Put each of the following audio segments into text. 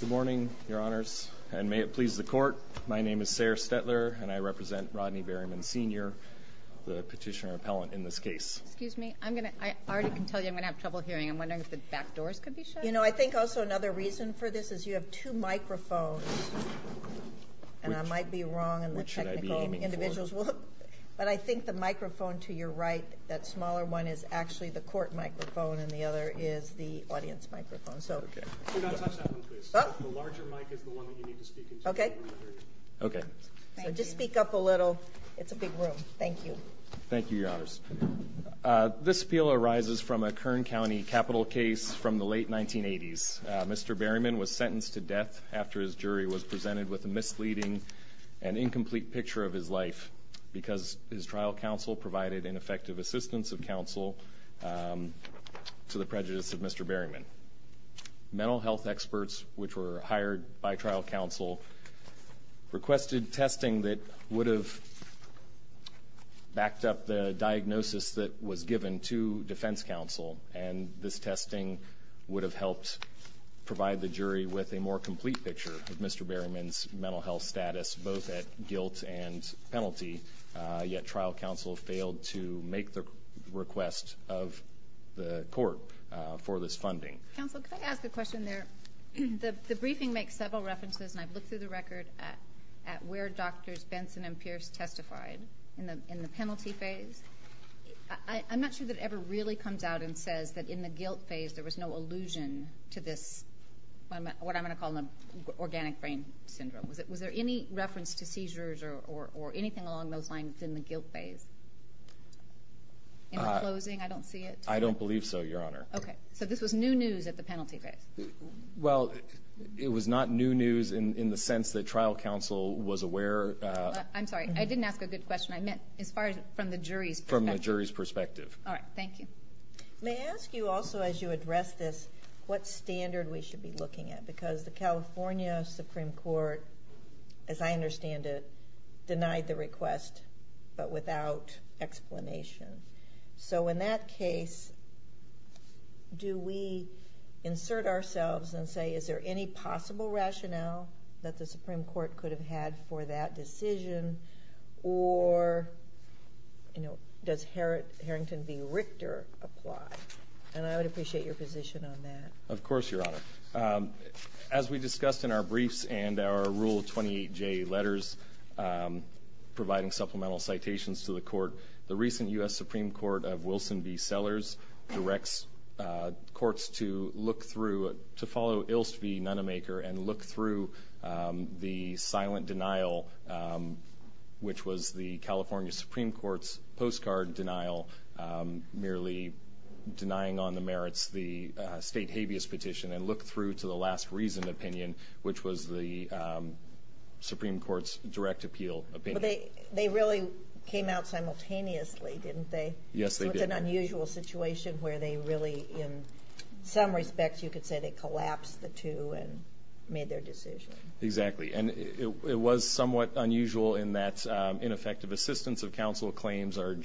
Good morning, Your Honors, and may it please the Court, my name is Saer Stettler, and I represent Rodney Berryman, Sr., the petitioner-appellant in this case. Excuse me, I already can tell you I'm going to have trouble hearing. I'm wondering if the back doors could be shut. You know, I think also another reason for this is you have two microphones, and I might be wrong in the technical. Which should I be aiming for? Individuals will. But I think the microphone to your right, that smaller one, is actually the court microphone, and the other is the audience microphone, so. Could I touch that one, please? The larger mic is the one that you need to speak into. Okay. Okay. So just speak up a little. It's a big room. Thank you. Thank you, Your Honors. This appeal arises from a Kern County capital case from the late 1980s. Mr. Berryman was sentenced to death after his jury was presented with a misleading and incomplete picture of his life because his trial counsel provided ineffective assistance of counsel to the prejudice of Mr. Berryman. Mental health experts, which were hired by trial counsel, requested testing that would have backed up the diagnosis that was given to defense counsel, and this testing would have helped provide the jury with a more complete picture of Mr. Berryman's mental health status, both at guilt and penalty, yet trial counsel failed to make the request of the court for this funding. Counsel, could I ask a question there? The briefing makes several references, and I've looked through the record, at where Drs. Benson and Pierce testified in the penalty phase. I'm not sure that it ever really comes out and says that in the guilt phase there was no allusion to this, what I'm going to call an organic brain syndrome. Was there any reference to seizures or anything along those lines in the guilt phase? In the closing, I don't see it. I don't believe so, Your Honor. So this was new news at the penalty phase? Well, it was not new news in the sense that trial counsel was aware. I'm sorry, I didn't ask a good question. I meant as far as from the jury's perspective. From the jury's perspective. All right, thank you. May I ask you also, as you address this, what denied the request, but without explanation? So in that case, do we insert ourselves and say, is there any possible rationale that the Supreme Court could have had for that decision? Or does Harrington v. Richter apply? And I would appreciate your position on that. Of course, Your Honor. As we discussed in our briefs and our Rule 28J letters providing supplemental citations to the court, the recent U.S. Supreme Court of Wilson v. Sellers directs courts to look through, to follow Ilst v. Nunnemaker and look through the silent denial, which was the California Supreme Court's postcard denial, merely denying on the merits the state habeas petition, and look through to the last reasoned opinion, which was the Supreme Court's direct appeal opinion. But they really came out simultaneously, didn't they? Yes, they did. So it's an unusual situation where they really, in some respects, you could say they collapsed the two and made their decision. Exactly. And it was somewhat unusual in that ineffective assistance of counsel claims are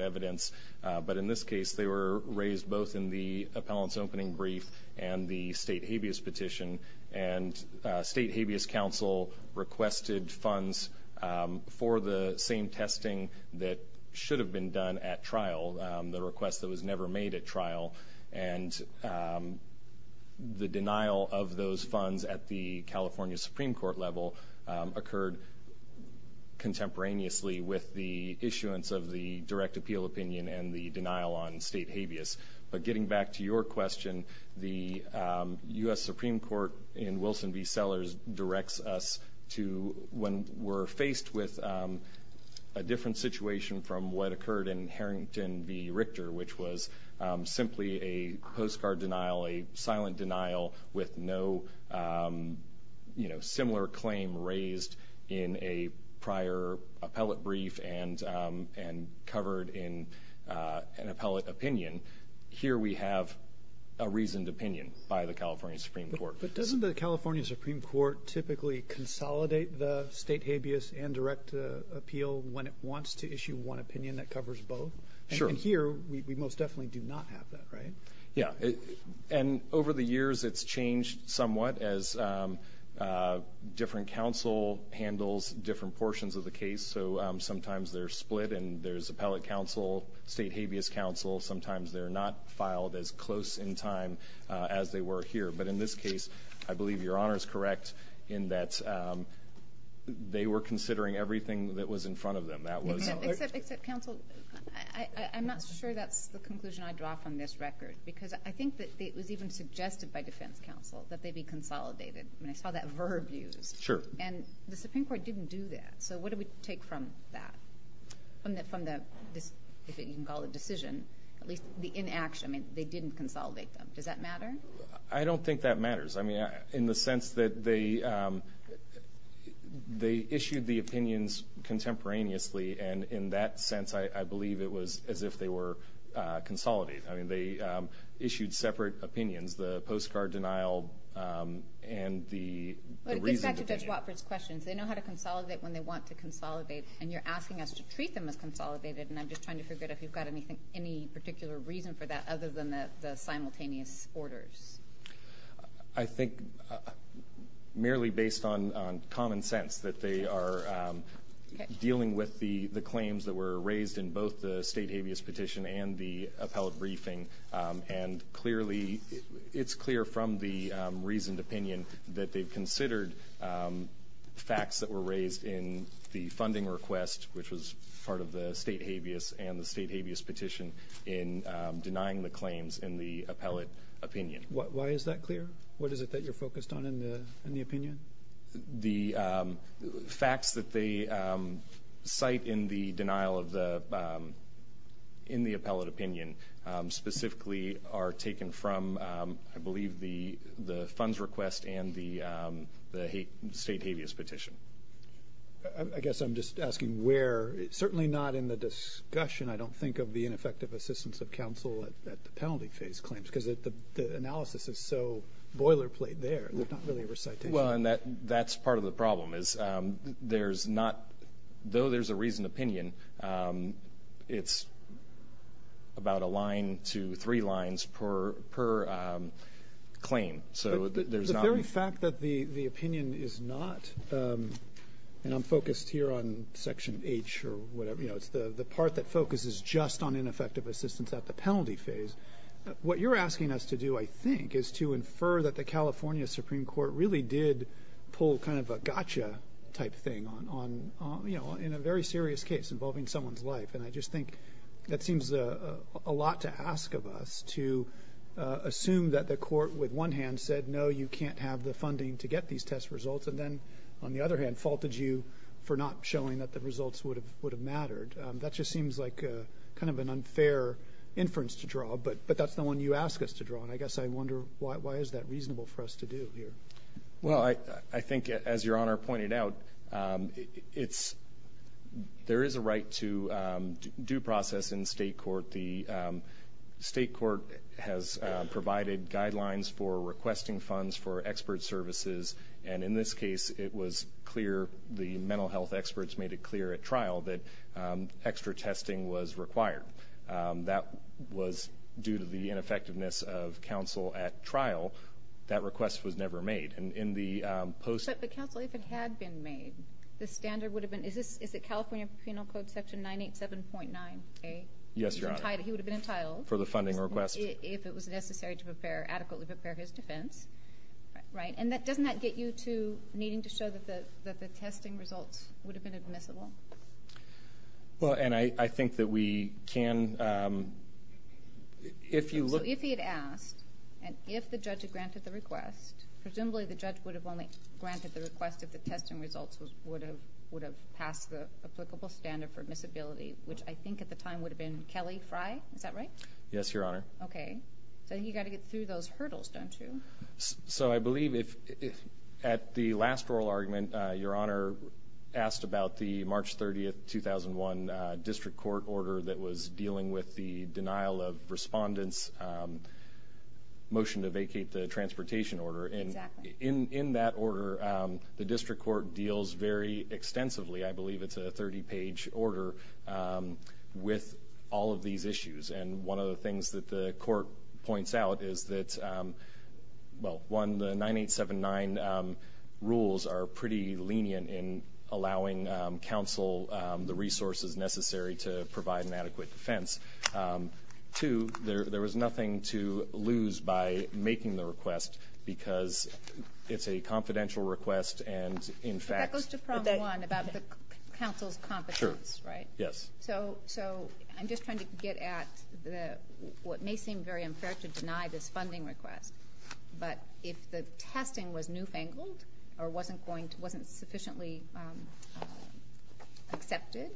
evidence. But in this case, they were raised both in the appellant's opening brief and the state habeas petition. And state habeas counsel requested funds for the same testing that should have been done at trial, the request that was never made at trial. And the denial of those funds at the California Supreme Court level occurred contemporaneously with the issuance of the direct appeal opinion and the denial on state habeas. But getting back to your question, the U.S. Supreme Court in Wilson v. Sellers directs us to when we're faced with a different situation from what occurred in Harrington v. Richter, which was simply a postcard denial, a silent denial with no similar claim raised in a prior appellate brief and covered in an appellate opinion, here we have a reasoned opinion by the California Supreme Court. But doesn't the California Supreme Court typically consolidate the state habeas and direct appeal when it wants to issue one opinion that covers both? Sure. And here, we most definitely do not have that, right? Yeah. And over the years, it's changed somewhat as different counsel handles different portions of the case. So sometimes they're split, and there's appellate counsel, state habeas counsel. Sometimes they're not filed as close in time as they were here. But in this case, I believe Your Honor's correct in that they were considering everything that was in front of them. Except, counsel, I'm not sure that's the conclusion I draw from this record, because I think that it was even suggested by defense counsel that they be consolidated. I mean, I saw that verb used. Sure. And the Supreme Court didn't do that. So what do we take from that? From the, if you can call it a decision, at least the inaction. I mean, they didn't consolidate them. Does that matter? I don't think that matters. I mean, in the sense that they issued the opinions contemporaneously, and in that sense, I believe it was as if they were consolidated. I mean, they issued separate opinions, the postcard denial and the reasoned opinion. But it gets back to Judge Watford's questions. They know how to consolidate when they want to consolidate, and you're asking us to treat them as consolidated. And I'm just trying to figure out if you've got any particular reason for that, other than the simultaneous orders. I think merely based on common sense, that they are dealing with the claims that were raised in both the state habeas petition and the appellate opinion. Why is that clear? What is it that you're focused on in the opinion? The facts that they cite in the denial of the, in the appellate opinion, specifically are taken from, I believe, the funds request and the state habeas petition. I guess I'm just asking where, certainly not in the discussion, I don't think, of the ineffective assistance of counsel at the penalty phase claims, because the analysis is so boilerplate there. There's not really a recitation. Well, and that's part of the problem, there's not, though there's a reasoned opinion, it's about a line to three lines per claim. But the very fact that the opinion is not, and I'm focused here on section H or whatever, it's the part that focuses just on ineffective assistance at the penalty phase. What you're asking us to do, I think, is to infer that the California Supreme Court really did pull kind of a gotcha type thing on, you know, in a very serious case involving someone's life. And I just think that seems a lot to ask of us to assume that the court with one hand said, no, you can't have the funding to get these test results, and then on the other hand faulted you for not showing that the results would have mattered. That just seems like kind of an unfair inference to draw, but that's the one you ask us to draw. And I guess I wonder why is that reasonable for us to do here? Well, I think, as Your Honor pointed out, there is a right to due process in state court. The state court has provided guidelines for requesting funds for expert services, and in this case it was clear, the mental health experts made it clear at trial, that extra testing was required. That was due to the ineffectiveness of counsel at trial. That request was never made. But counsel, if it had been made, the standard would have been, is it California Penal Code section 987.9a? Yes, Your Honor. He would have been entitled for the funding request. If it was necessary to adequately prepare his defense, right? And doesn't that get you to needing to show that the testing results would have been admissible? Well, and I think that we can, if you look... So if he had asked, and if the judge had granted the request, presumably the judge would have only granted the request if the testing results would have passed the applicable standard for admissibility, which I think at the time would have been Kelly Fry, is that right? Yes, Your Honor. Okay. So you've got to get through those hurdles, don't you? So I believe, at the last oral argument, Your Honor asked about the March 30th, 2001, district court order that was dealing with the denial of respondents' motion to vacate the transportation order. Exactly. And in that order, the district court deals very extensively, I believe it's a 30-page order, with all of these issues. And one of the things that the court points out is that, well, one, the 987.9 rules are pretty lenient in allowing counsel the resources necessary to provide an adequate defense. Two, there was nothing to lose by making the request, because it's a confidential request, and in fact... That goes to problem one, about the counsel's competence, right? Sure. Yes. So I'm just trying to get at what may seem very unfair to deny this funding request, but if the testing was newfangled or wasn't sufficiently accepted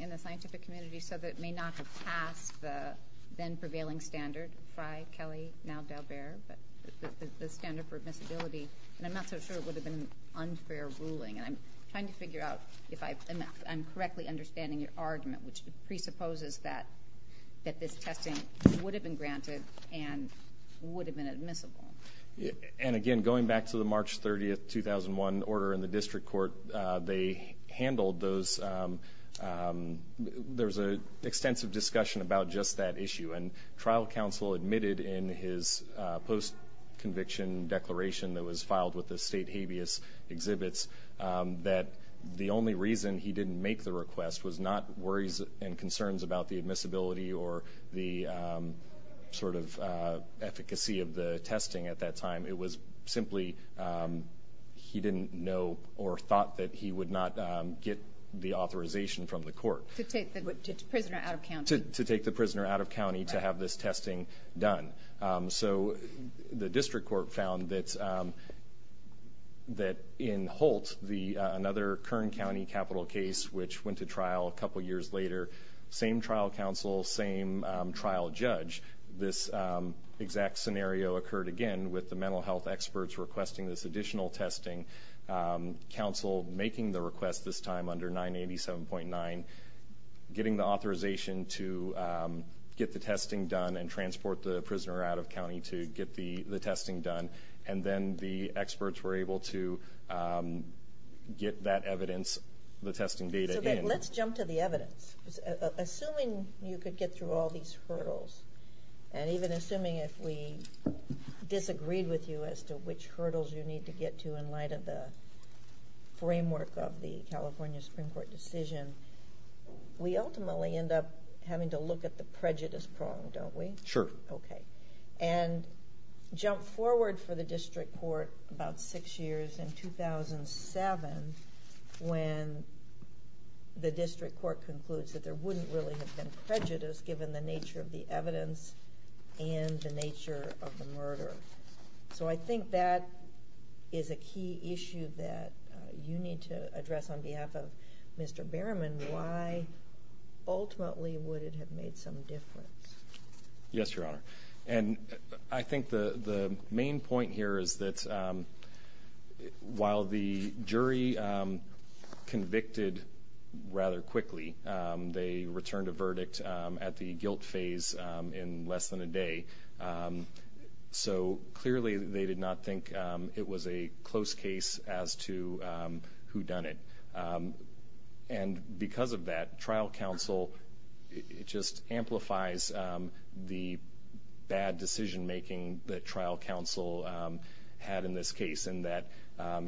in the scientific community so that it may not have passed the then-prevailing standard, Fry, Kelly, now Dalbert, the standard for admissibility, and I'm not so sure it would have been an unfair ruling. And I'm trying to figure out if I'm correctly understanding your argument, which presupposes that this testing would have been granted and would have been admissible. And again, going back to the March 30, 2001, order in the district court, they handled those... There was an extensive discussion about just that issue, and trial counsel admitted in his post-conviction declaration that was filed with the state habeas exhibits that the only reason he didn't make the request was not worries and concerns about the testing at that time. It was simply he didn't know or thought that he would not get the authorization from the court. To take the prisoner out of county. To take the prisoner out of county to have this testing done. So the district court found that in Holt, another Kern County capital case, which went to trial a couple years later, same trial counsel, same trial judge, this exact scenario occurred again with the mental health experts requesting this additional testing. Counsel making the request this time under 987.9, getting the authorization to get the testing done and transport the prisoner out of county to get the testing done. And then the experts were able to get that evidence, the testing data in. So let's jump to the evidence. Assuming you could get through all these hurdles, and even assuming if we disagreed with you as to which hurdles you need to get to in light of the framework of the California Supreme Court decision, we ultimately end up having to look at the prejudice prong, don't we? Sure. Okay. And jump forward for the district court about six years in 2007 when the district court concludes that there wouldn't really have been prejudice given the nature of the evidence and the nature of the murder. So I think that is a key issue that you need to address on behalf of Mr. Bearman. Why ultimately would it have made some difference? Yes, Your Honor. And I think the main point here is that while the jury convicted rather quickly, they returned a verdict at the guilt phase in less than a day. So clearly they did not think it was a close case as to whodunit. And because of that, trial counsel, it just amplifies the bad decision making that trial counsel had in this case, in that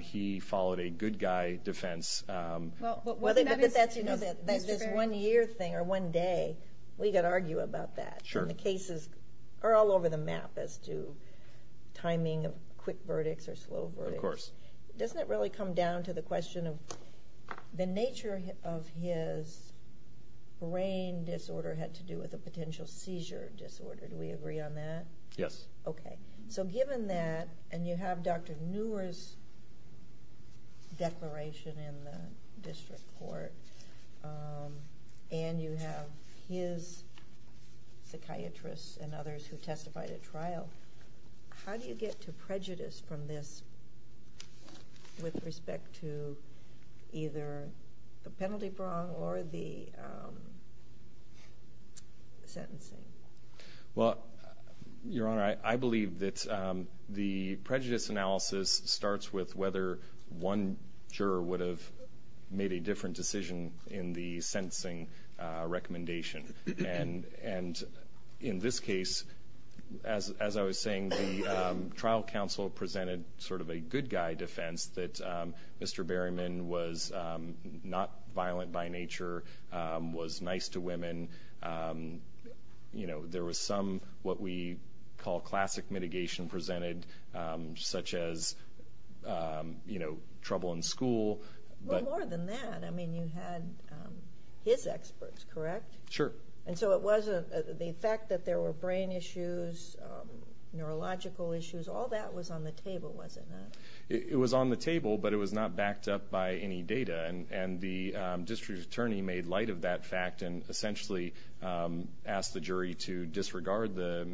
he followed a good guy defense. But that's, you know, that this one year thing or one day, we could argue about that. Sure. And the cases are all over the map as to timing of quick verdicts or slow verdicts. Of course. Doesn't it really come down to the question of the nature of his brain disorder had to do with a potential seizure disorder? Do we agree on that? Yes. Okay. So given that, and you have Dr. Neuer's declaration in the district court, and you have his psychiatrists and others who testified at trial, how do you get to prejudice from this with respect to either the penalty prong or the sentencing? Well, Your Honor, I believe that the prejudice analysis starts with whether one juror would have made a different decision in the sentencing recommendation. And in this case, as I was saying, the trial counsel presented sort of a good guy defense that Mr. Berryman was not violent by nature, was nice to women. You know, there was some what we call classic mitigation presented, such as, you know, trouble in school. Well, more than that. I mean, you had his experts, correct? Sure. And so it wasn't the fact that there were brain issues, neurological issues, all that was on the table, wasn't it? It was on the table, but it was not and the district attorney made light of that fact and essentially asked the jury to disregard the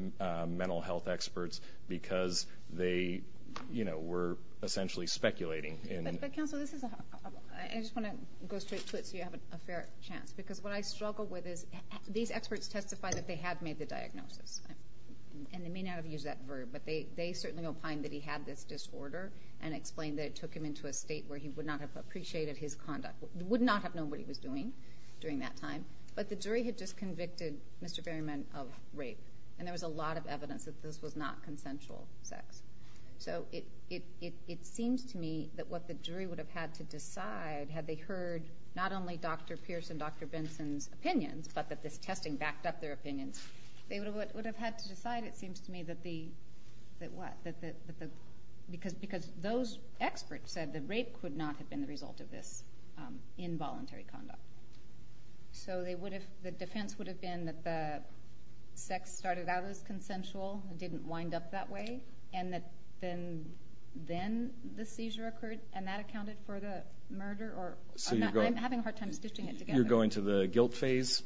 mental health experts because they, you know, were essentially speculating. But counsel, I just want to go straight to it so you have a fair chance, because what I struggle with is these experts testify that they have made the diagnosis, and they may not have used that verb, but they certainly opined that he had this disorder and explained that it took him into a state where he would not have appreciated his conduct, would not have known what he was doing during that time. But the jury had just convicted Mr. Berryman of rape, and there was a lot of evidence that this was not consensual sex. So it seems to me that what the jury would have had to decide had they heard not only Dr. Pierce and Dr. Benson's opinions, but that this testing backed up their opinions, they would have had to decide, it seems to me, that the, that what, that the, because, because those experts said that rape could not have been the result of this involuntary conduct. So they would have, the defense would have been that the sex started out as consensual, it didn't wind up that way, and that then, then the seizure occurred, and that accounted for the murder or, I'm having a hard time stitching it together. You're going to the guilt phase?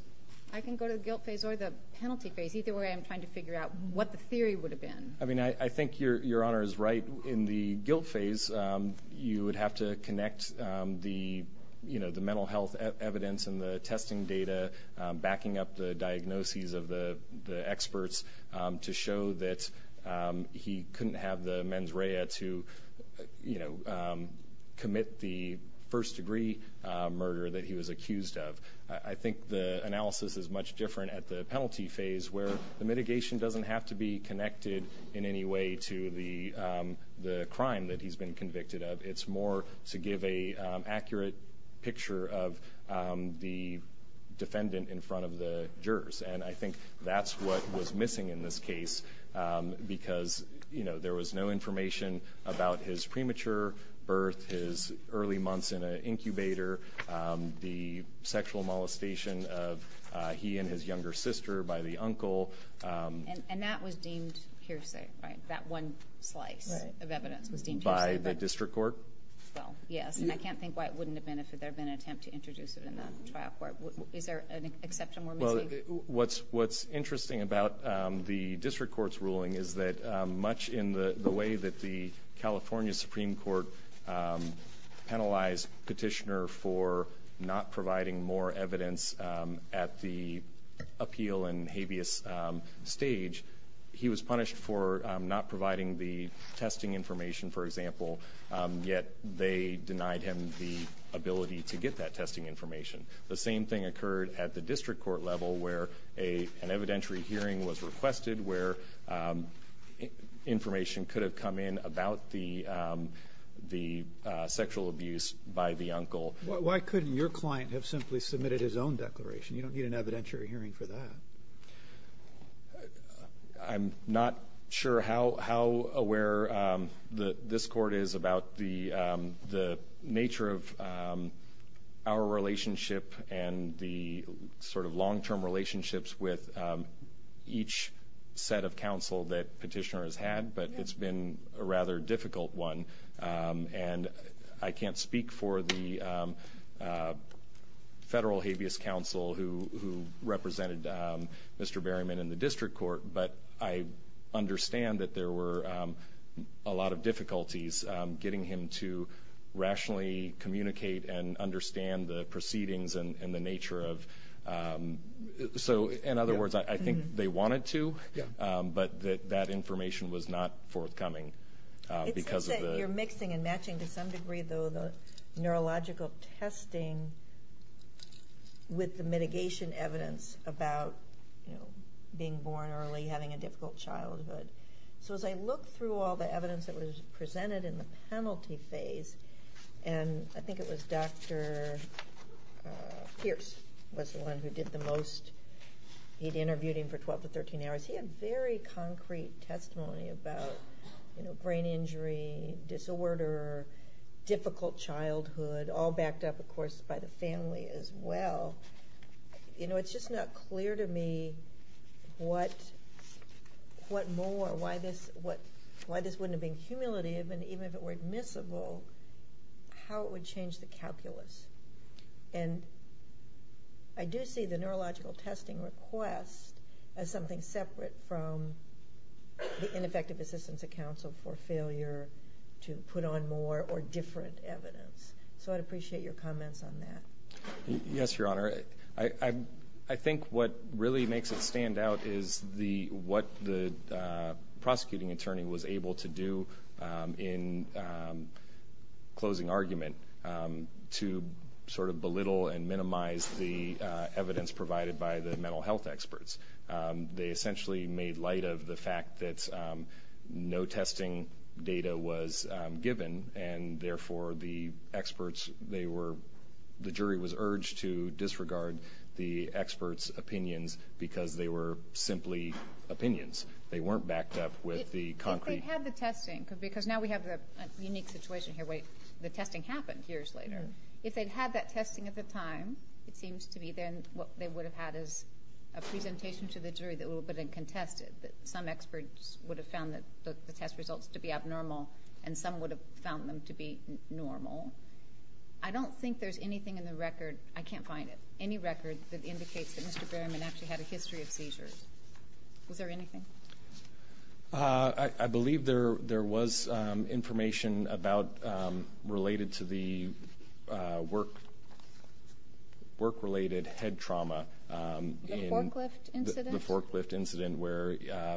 I can go to the guilt phase or the penalty phase. Either way, I'm trying to figure out what the theory would have been. I mean, I think Your Honor is right. In the guilt phase, you would have to connect the, you know, the mental health evidence and the testing data, backing up the diagnoses of the experts to show that he couldn't have the mens rea to, you know, commit the first degree murder that he was accused of. I think the analysis is much different at the penalty phase, where the mitigation doesn't have to be connected in any way to the, the crime that he's been convicted of. It's more to give a accurate picture of the defendant in front of the jurors, and I think that's what was missing in this case, because, you know, there was no information about his premature birth, his early months in an incubator, the sexual molestation of he and his younger sister by the uncle. And that was deemed hearsay, right? That one slice of evidence was deemed hearsay? By the district court? Well, yes, and I can't think why it wouldn't have been if there had been an attempt to introduce it in the trial court. Is there an exception where we see? Well, what's interesting about the district court's ruling is that much in the way that the California Supreme Court penalized petitioner for not providing more evidence at the appeal and habeas stage, he was punished for not providing the testing information, for example, yet they denied him the ability to get that testing information. The same thing occurred at the district court level, where an evidentiary hearing was requested, where information could have come in about the sexual abuse by the uncle. Why couldn't your client have simply submitted his own declaration? You don't need an evidentiary hearing for that. I'm not sure how aware this Court is about the nature of our relationship and the sort of long-term relationships with each set of counsel that petitioner has had, but it's been a rather difficult one, and I can't speak for the federal habeas counsel who represented Mr. Berryman in the district court, but I understand that there were a lot of difficulties getting him to rationally communicate and understand the So, in other words, I think they wanted to, but that information was not forthcoming. It seems that you're mixing and matching to some degree, though, the neurological testing with the mitigation evidence about, you know, being born early, having a difficult childhood. So as I look through all the evidence that was presented in the penalty phase, and I think it was Dr. Pierce was the one who did the most. He interviewed him for 12 to 13 hours. He had very concrete testimony about, you know, brain injury, disorder, difficult childhood, all backed up, of course, by the family as well. You know, it's just not clear to me what more, why this wouldn't have been even if it were admissible, how it would change the calculus. And I do see the neurological testing request as something separate from the ineffective assistance of counsel for failure to put on more or different evidence. So I'd appreciate your comments on that. Yes, Your Honor. I think what really makes it stand out is what the prosecuting attorney was able to do in closing argument to sort of belittle and minimize the evidence provided by the mental health experts. They essentially made light of the fact that no testing data was given, and because they were simply opinions. They weren't backed up with the concrete. If they had the testing, because now we have a unique situation here, where the testing happened years later. If they'd had that testing at the time, it seems to me then what they would have had is a presentation to the jury that would have been contested, that some experts would have found the test results to be abnormal, and some would have found them to be normal. I don't think there's anything in the record, I can't find it, any record that indicates that Mr. Berryman actually had a history of seizures. Was there anything? I believe there was information related to the work-related head trauma. The forklift incident? The forklift incident, where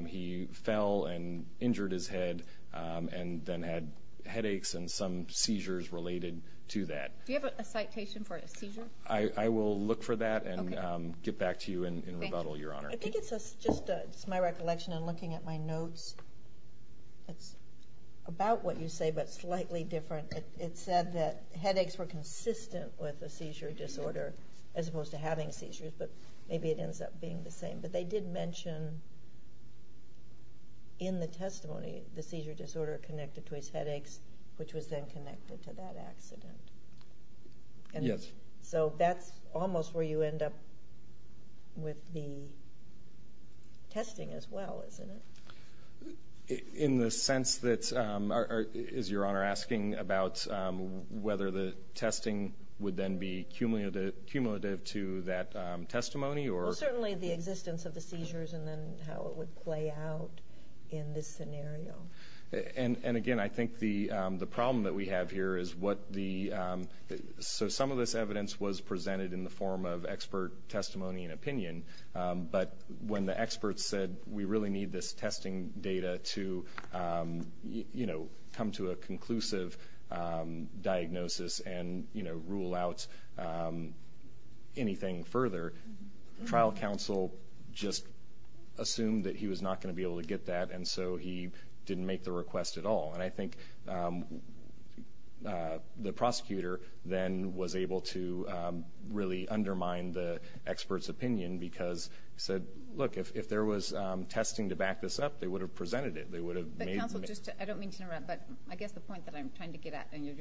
he fell and injured his head and then had headaches and some seizures related to that. Do you have a citation for a seizure? I will look for that and get back to you in rebuttal, Your Honor. I think it's just my recollection, and looking at my notes, it's about what you say, but slightly different. It said that headaches were consistent with a seizure disorder, as opposed to having seizures, but maybe it ends up being the same. But they did mention in the testimony the seizure disorder connected to his headaches, which was then connected to that accident. Yes. So that's almost where you end up with the testing as well, isn't it? In the sense that, is Your Honor asking about whether the existence of the seizures and then how it would play out in this scenario? And again, I think the problem that we have here is what the... So some of this evidence was presented in the form of expert testimony and opinion, but when the experts said, we really need this testing data to come to a conclusive diagnosis and rule out anything further, trial counsel just assumed that he was not going to be able to get that, and so he didn't make the request at all. And I think the prosecutor then was able to really undermine the expert's opinion because he said, look, if there was testing to back this up, they would have presented it. They would have made... But counsel, I don't mean to interrupt, but I guess the point that I'm trying to get at, and you're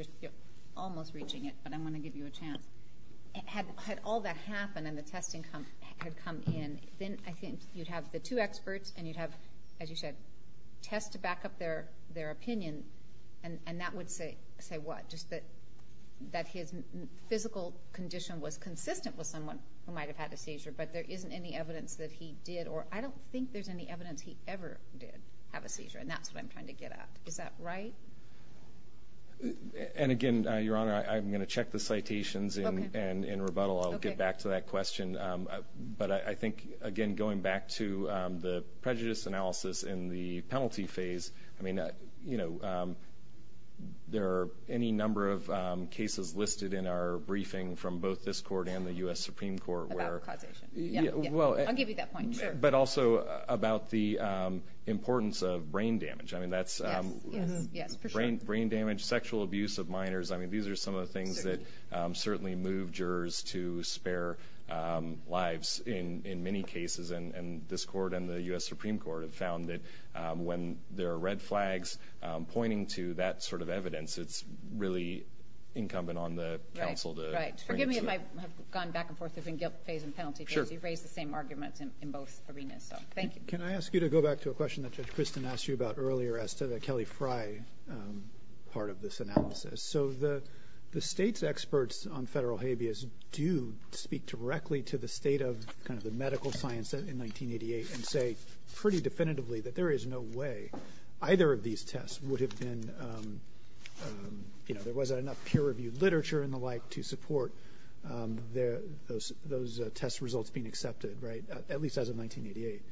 almost reaching it, but I'm going to give you a chance. Had all that happened and the testing had come in, then I think you'd have the two experts and you'd have, as you said, test to back up their opinion, and that would say what? Just that his physical condition was consistent with someone who might have had a seizure, but there isn't any evidence that he did, or I don't think there's any evidence he ever did have a seizure, and that's what I'm trying to get at. Is that right? And again, Your Honor, I'm going to check the citations in rebuttal. I'll get back to that question. But I think, again, going back to the prejudice analysis in the penalty phase, there are any number of cases listed in our briefing from both this court and the U.S. Supreme Court where... About causation. Yeah. I'll give you that point. Sure. But also about the importance of brain damage. I mean, that's... Yes, yes, for sure. Brain damage, sexual abuse of minors. I mean, these are some of the things that certainly move jurors to spare lives in many cases, and this court and the U.S. Supreme Court have found that when there are red flags pointing to that sort of evidence, it's really incumbent on the counsel to... Right, right. Forgive me if I have gone back and forth between guilt phase and penalty phase. You've raised the same arguments in both arenas, so thank you. Can I ask you to go back to a question that Judge Christin asked you about earlier as to the Kelly Fry part of this analysis? So the state's experts on federal habeas do speak directly to the state of kind of the medical science in 1988 and say pretty definitively that there is no way either of these tests would have been... There wasn't enough peer-reviewed literature and the like to results being accepted, right, at least as of 1988.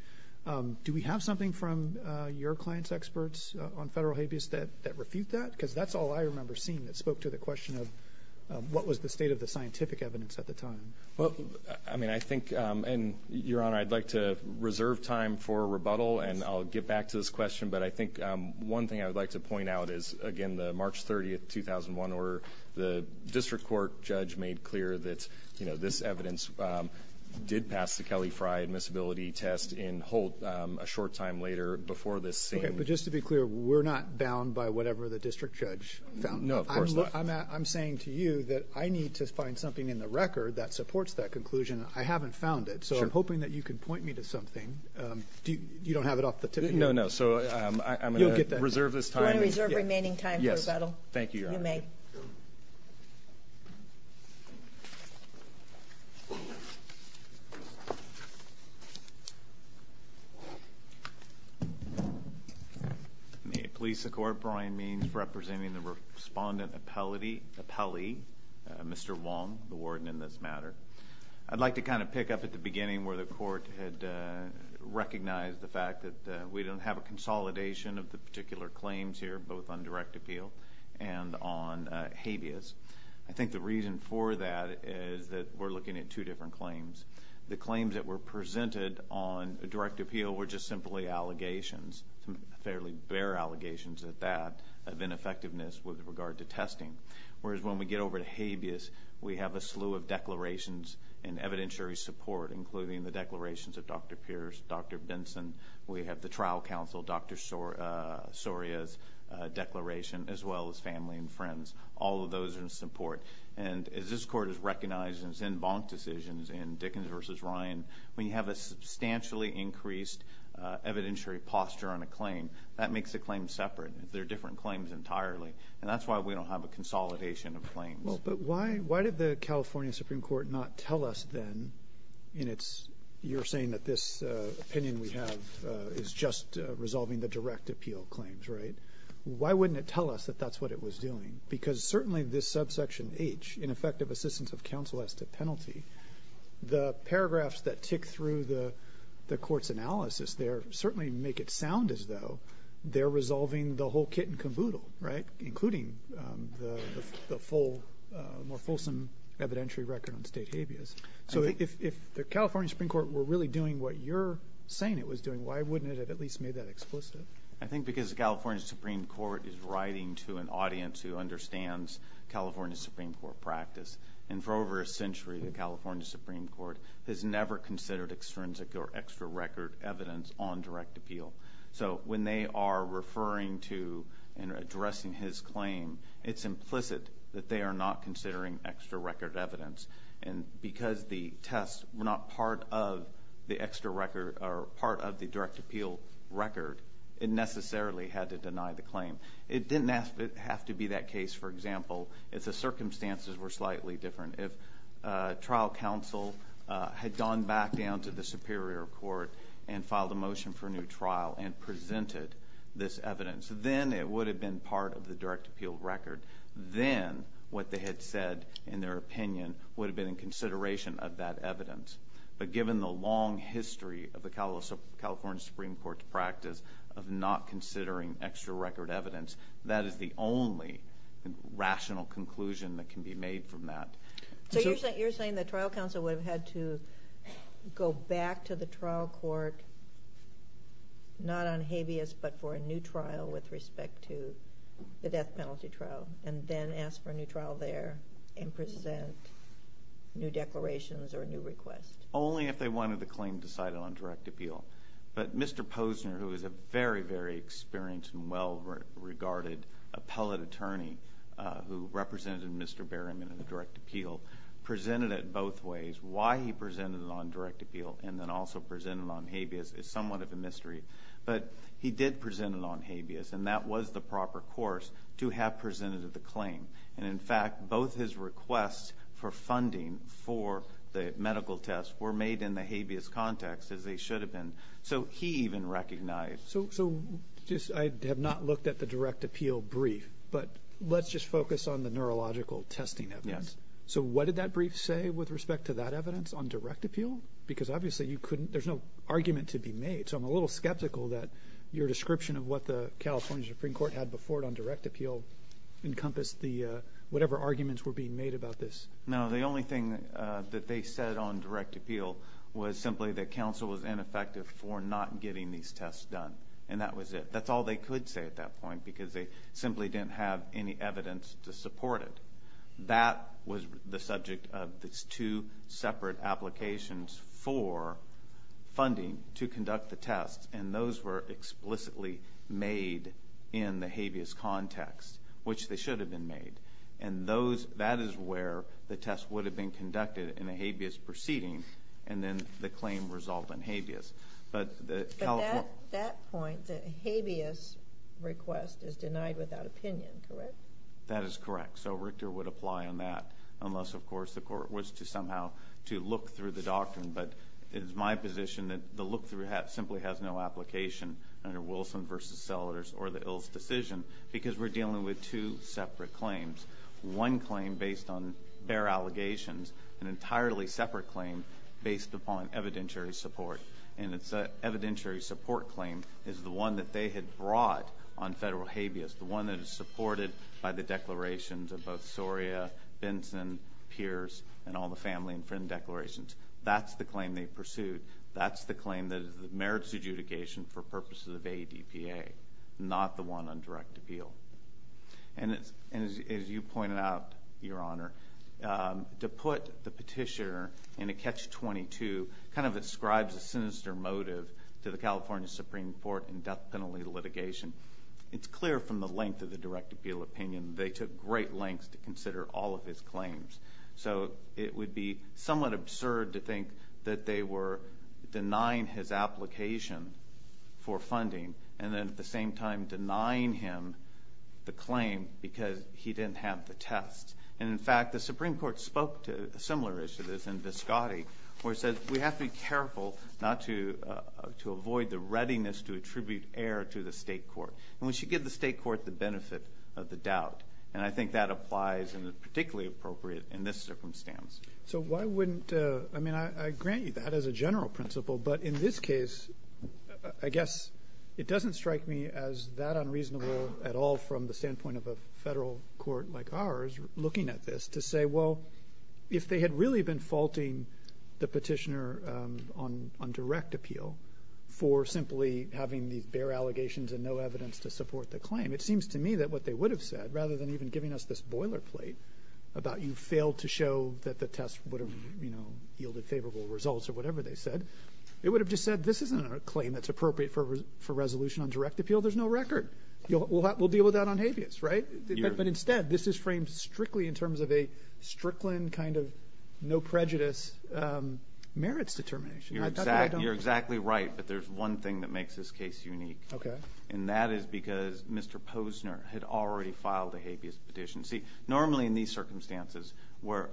Do we have something from your client's experts on federal habeas that refute that? Because that's all I remember seeing that spoke to the question of what was the state of the scientific evidence at the time. Well, I mean, I think... And, Your Honor, I'd like to reserve time for rebuttal and I'll get back to this question, but I think one thing I would like to point out is, again, the March 30, 2001 order, the district court judge made clear that, you know, this evidence did pass the Kelly Fry admissibility test in Holt a short time later before this... Okay, but just to be clear, we're not bound by whatever the district judge found. No, of course not. I'm saying to you that I need to find something in the record that supports that conclusion. I haven't found it, so I'm hoping that you can point me to something. Do you don't have it off the tip of your... No, no. So I'm going to reserve this time... You want to reserve remaining time for rebuttal? Thank you, Your Honor. You may. May it please the court, Brian Means representing the respondent appellee, Mr. Wong, the warden in this matter. I'd like to kind of pick up at the beginning where the court had recognized the fact that we don't have a consolidation of the particular claims here, both on direct appeal and on habeas. I think the reason for that is that we're looking at two different claims. The claims that were presented on direct appeal were just simply allegations, fairly bare allegations at that, of ineffectiveness with regard to testing. Whereas when we get over to habeas, we have a slew of declarations and evidentiary support, including the declarations of Dr. Pierce, Dr. Benson. We have the trial counsel, Dr. Soria's declaration, as well as family and friends. All of those are in support. And as this court has recognized in Zinn-Vonk decisions in Dickens v. Ryan, when you have a substantially increased evidentiary posture on a claim, that makes the claim separate. They're different claims entirely. And that's why we don't have a consolidation of claims. But why did the California Supreme Court not tell us then, and you're saying that this opinion we have is just resolving the direct appeal claims, right? Why wouldn't it tell us that that's what it was doing? Because certainly this subsection H, ineffective assistance of counsel as to penalty, the paragraphs that tick through the court's analysis there certainly make it sound as though they're resolving the whole kit and caboodle, right? Including the more fulsome evidentiary record on state habeas. So if the California Supreme Court were really doing what you're saying it was doing, why wouldn't it have at least made that explicit? I think because the California Supreme Court is writing to an audience who understands California Supreme Court practice. And for over a century, the California Supreme Court has never considered extrinsic or extra record evidence on direct appeal. So when they are referring to and addressing his claim, it's implicit that they are not considering extra record evidence. And because the tests were not part of the direct appeal record, it necessarily had to deny the claim. It didn't have to be that case, for example, if the circumstances were had gone back down to the Superior Court and filed a motion for a new trial and presented this evidence, then it would have been part of the direct appeal record. Then what they had said in their opinion would have been in consideration of that evidence. But given the long history of the California Supreme Court's practice of not considering extra record evidence, that is the only rational conclusion that can be made from that. So you're saying the trial counsel would have had to go back to the trial court, not on habeas, but for a new trial with respect to the death penalty trial and then ask for a new trial there and present new declarations or a new request? Only if they wanted the claim decided on direct appeal. But Mr. Posner, who is a very, very experienced and well-regarded appellate attorney who represented Mr. Berryman in the direct appeal, presented it both ways. Why he presented it on direct appeal and then also presented it on habeas is somewhat of a mystery. But he did present it on habeas, and that was the proper course to have presented the claim. And in fact, both his requests for funding for the medical tests were made in the habeas context, as they should have been. So he even recognized. So I have not looked at the direct appeal brief, but let's just focus on the neurological testing evidence. So what did that brief say with respect to that evidence on direct appeal? Because obviously there's no argument to be made. So I'm a little skeptical that your description of what the California Supreme Court had before it on direct appeal encompassed whatever arguments were being made about this. No, the only thing that they said on direct appeal was simply that counsel was ineffective for not getting these tests done. And that was it. That's all they could say at that point, because they simply didn't have any evidence to support it. That was the subject of these two separate applications for funding to conduct the tests, and those were explicitly made in the habeas context, which they should have been made. And that is where the test would have been conducted in a habeas proceeding, and then the claim resolved in habeas. But California... At that point, the habeas request is denied without opinion, correct? That is correct. So Richter would apply on that, unless of course the court was to somehow to look through the doctrine. But it is my position that the look-through simply has no application under Wilson v. Sellers or the Ills decision, because we're dealing with two separate claims. One claim based on bare allegations, an entirely separate claim based upon evidentiary support. And it's an evidentiary support claim is the one that they had brought on federal habeas, the one that is supported by the declarations of both Soria, Benson, Pierce, and all the family and friend declarations. That's the claim they pursued. That's the claim that is the merits adjudication for purposes of ADPA, not the one on direct appeal. And as you pointed out, Your Honor, to put the petitioner in a catch-22 kind of ascribes a sinister motive to the California Supreme Court in death penalty litigation. It's clear from the length of the direct appeal opinion they took great lengths to consider all of his claims. So it would be somewhat absurd to think that they were denying his application for funding, and then at the same time denying him the claim because he didn't have the test. And in fact, the Supreme Court spoke to a similar issue that is in Viscotti, where it says we have to be careful not to avoid the readiness to attribute error to the state court. And we should give the state court the benefit of the doubt. And I think that applies and is particularly appropriate in this circumstance. So why wouldn't, I mean, I grant you that as a general principle, but in this case, I guess it doesn't strike me as that unreasonable at all from the standpoint of a Federal court like ours looking at this to say, well, if they had really been faulting the petitioner on direct appeal for simply having these bare allegations and no evidence to support the claim, it seems to me that what they would have said, rather than even giving us this boilerplate about you failed to show that the test would have, you know, yielded favorable results or whatever they said, they would have just said this isn't a claim that's appropriate for resolution on direct appeal. There's no record. We'll deal with that on habeas, right? But instead, this is framed strictly in terms of a Strickland kind of no prejudice merits determination. I thought that I don't know. You're exactly right, but there's one thing that makes this case unique. Okay. And that is because Mr. Posner had already filed a habeas petition. See, normally in these circumstances where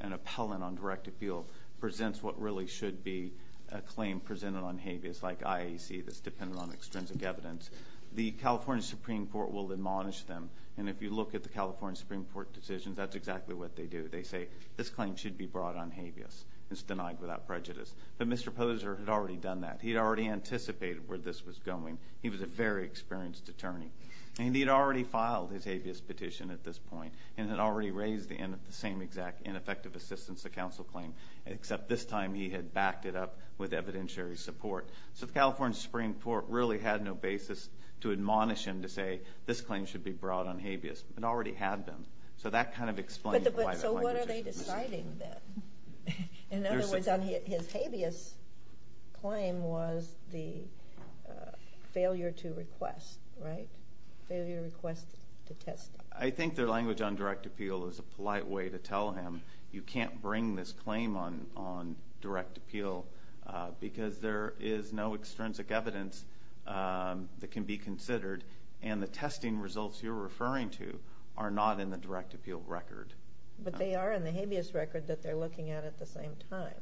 an appellant on direct appeal presents what really should be a claim presented on habeas, like IAC, that's dependent on extrinsic evidence, the California Supreme Court will admonish them. And if you look at the California Supreme Court decisions, that's exactly what they do. They say, this claim should be brought on habeas. It's denied without prejudice. But Mr. Posner had already done that. He had already anticipated where this was going. He was a very experienced attorney. And he had already filed his habeas petition at this point, and had already raised the same exact ineffective assistance, the counsel claim, except this time he had backed it up with evidentiary support. So the California Supreme Court really had no basis to admonish him to say, this claim should be brought on habeas. It already had them. So that kind of explains why the claim was just presented. But so what are they deciding then? In other words, his habeas claim was the failure to request the testing. I think their language on direct appeal is a polite way to tell him, you can't bring this claim on direct appeal, because there is no extrinsic evidence that can be considered, and the testing results you're referring to are not in the direct appeal record. But they are in the habeas record that they're looking at at the same time,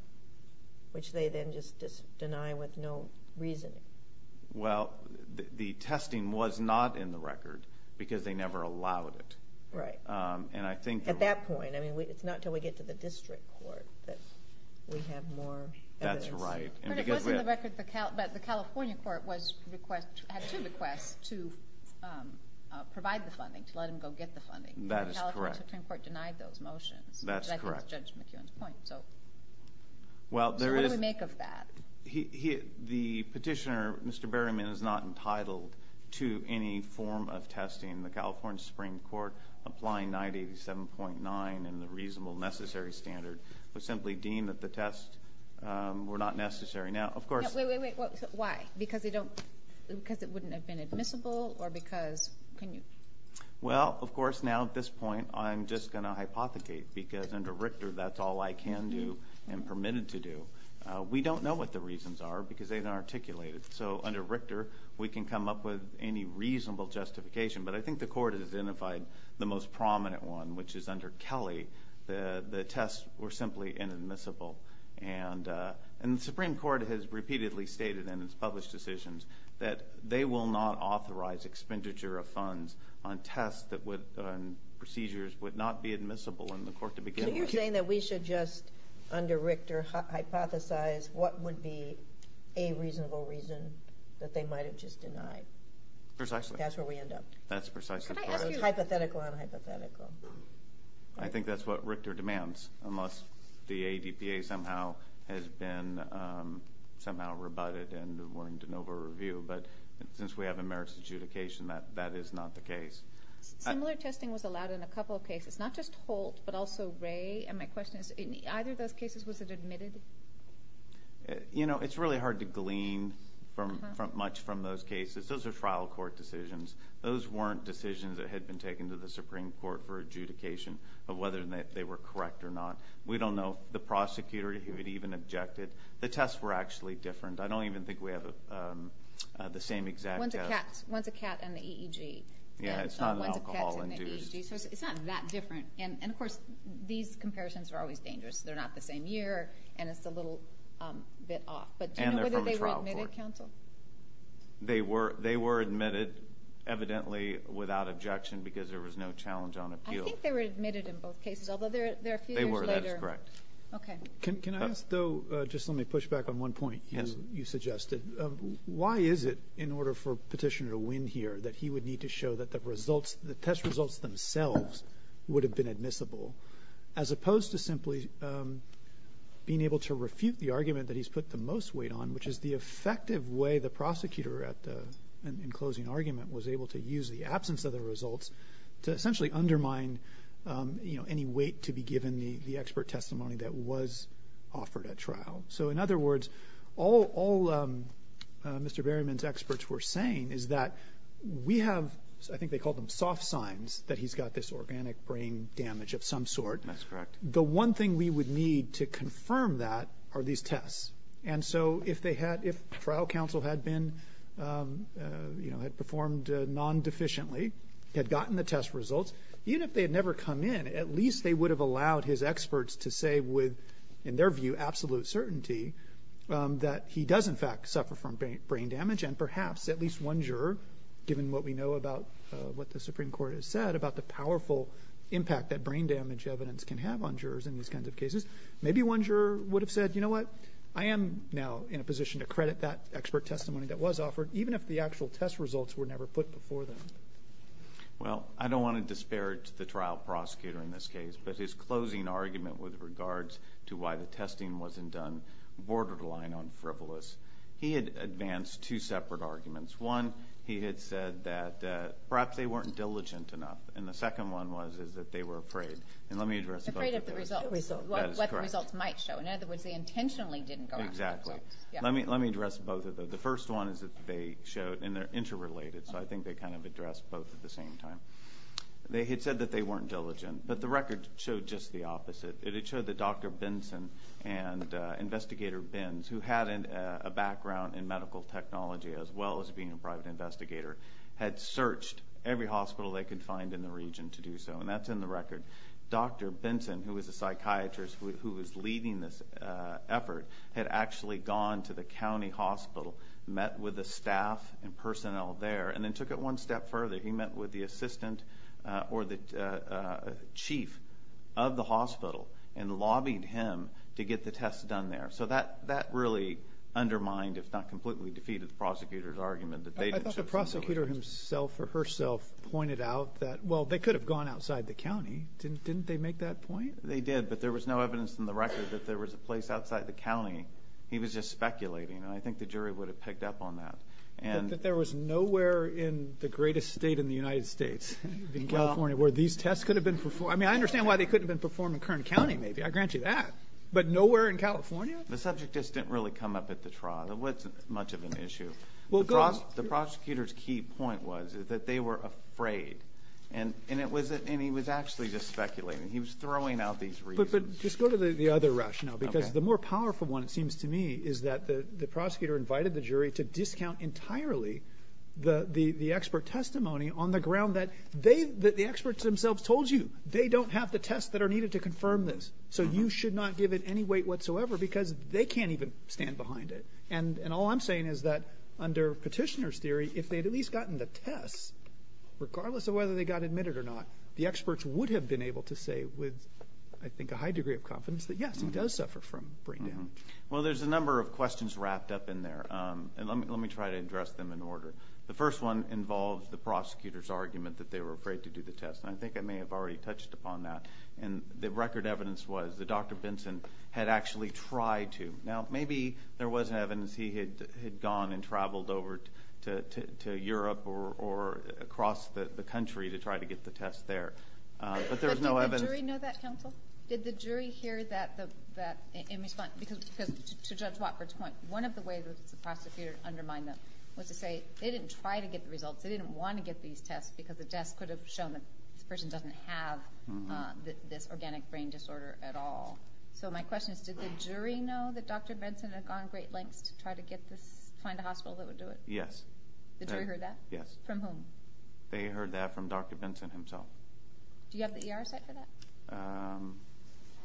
which they then just deny with no reasoning. Well, the testing was not in the record, because they never allowed it. Right. At that point, I mean, it's not until we get to the district court that we have more evidence. That's right. But it was in the record, but the California court had two requests to provide the funding, to let him go get the funding. That is correct. And the California Supreme Court denied those motions. That's correct. Which I think is Judge McEwen's point. So what do we make of that? The petitioner, Mr. Berryman, is not entitled to any form of testing. The California Supreme Court, applying 987.9 in the reasonable necessary standard, would simply deem that the tests were not necessary. Now, of course... Wait, wait, wait. Why? Because it wouldn't have been admissible, or because... Well, of course, now at this point, I'm just going to hypothecate, because under Richter, that's all I can do, and permitted to do. We don't know what the reasons are, because they aren't articulated. So under Richter, we can come up with any reasonable justification. But I think the court has identified the most prominent one, which is under Kelly, the tests were simply inadmissible. And the Supreme Court has repeatedly stated in its published decisions that they will not authorize expenditure of funds on tests and procedures that would not be admissible in the court to begin with. So you're saying that we should just, under Richter, hypothesize what would be a reasonable reason that they might have just denied. Precisely. That's where we end up. That's precisely... Can I ask you... Hypothetical, unhypothetical. I think that's what Richter demands, unless the ADPA somehow has been, somehow rebutted and we're in de novo review. But since we have a merits adjudication, that is not the case. Similar testing was allowed in a couple of cases. Not just Holt, but also Ray. And my question is, in either of those cases, was it admitted? You know, it's really hard to glean much from those cases. Those are trial court decisions. Those weren't decisions that had been taken to the Supreme Court for adjudication of whether they were correct or not. We don't know if the prosecutor had even objected. The tests were actually different. I don't even think we have the same exact test. One's a CAT and the EEG. Yeah, it's not an alcohol induced. It's not that different. And of course, these comparisons are always dangerous. They're not the same year, and it's a little bit off. And they're from a trial court. But do you know whether they were admitted, counsel? They were admitted, evidently, without objection, because there was no challenge on appeal. I think they were admitted in both cases, although they're a few years later. They were, that is correct. Okay. Can I ask, though, just let me push back on one point you suggested. Why is it, in order for Petitioner to win here, that he would need to show that the test results themselves would have been admissible, as opposed to simply being able to refute the argument that he's put the most weight on, which is the effective way the prosecutor, in closing argument, was able to use the absence of the results to essentially undermine any weight to be given the expert testimony that was offered at trial? So, in other words, all Mr. Berryman's experts were saying is that we have, I think they called them soft signs, that he's got this organic brain damage of some sort. That's correct. The one thing we would need to confirm that are these tests. And so if they had, if trial counsel had been, you know, had performed non-deficiently, had gotten the test results, even if they had never come in, at least they would have allowed his experts to say with, in their view, absolute certainty, that he does, in fact, suffer from brain damage, and perhaps at least one juror, given what we know about what the Supreme Court has said about the powerful impact that brain damage evidence can have on jurors in these kinds of cases, maybe one juror would have said, you know what, I am now in a position to credit that expert testimony that was offered, even if the actual test results were never put before them. Well, I don't want to disparage the trial prosecutor in this case, but his closing argument with regards to why the testing wasn't done borderline on frivolous. He had advanced two separate arguments. One, he had said that perhaps they weren't diligent enough, and the second one was that they were afraid. And let me address both of those. Afraid of the results, what the results might show. In other words, they intentionally didn't go after the results. Exactly. Let me address both of those. The first one is that they showed, and they're interrelated, so I think they kind of addressed both at the same time. They had said that they weren't diligent, but the record showed just the opposite. It had showed that Dr. Benson and Investigator Benz, who had a background in medical technology as well as being a private investigator, had searched every hospital they could find in the region to do so, and that's in the record. Dr. Benson, who was a psychiatrist who was leading this effort, had actually gone to the county hospital, met with the staff and personnel there, and then took it one step further. He met with the assistant or the chief of the hospital and lobbied him to get the tests done there. So that really undermined, if not completely defeated, the prosecutor's argument. I thought the prosecutor himself or herself pointed out that, well, they could have gone outside the county. Didn't they make that point? They did, but there was no evidence in the record that there was a place outside the county. He was just speculating, and I think the jury would have picked up on that. But there was nowhere in the greatest state in the United States, in California, where these tests could have been performed. I mean, I understand why they couldn't have been performed in Kern County, maybe. I grant you that. But nowhere in California? The subject just didn't really come up at the trial. It wasn't much of an issue. The prosecutor's key point was that they were afraid. And he was actually just speculating. He was throwing out these reasons. But just go to the other rationale, because the more powerful one, it seems to me, is that the prosecutor invited the jury to discount entirely the expert testimony on the ground that the experts themselves told you they don't have the tests that are needed to confirm this. So you should not give it any weight whatsoever, because they can't even stand behind it. And all I'm saying is that under Petitioner's theory, if they had at least gotten the tests, regardless of whether they got admitted or not, the experts would have been able to say with, I think, a high degree of confidence that, yes, he does suffer from brain damage. Well, there's a number of questions wrapped up in there. And let me try to address them in order. The first one involves the prosecutor's argument that they were afraid to do the test. And I think I may have already touched upon that. And the record evidence was that Dr. Benson had actually tried to. Now, maybe there was evidence he had gone and traveled over to Europe or across the country to try to get the test there. But there's no evidence. But did the jury know that, counsel? Did the jury hear that in response? Because to Judge Watford's point, one of the ways that the prosecutor undermined them was to say they didn't try to get the results, they didn't want to get these tests, because the test could have shown the person doesn't have this organic brain disorder at all. So my question is, did the jury know that Dr. Benson had gone great lengths to try to find a hospital that would do it? Yes. The jury heard that? Yes. From whom? They heard that from Dr. Benson himself. Do you have the ER site for that?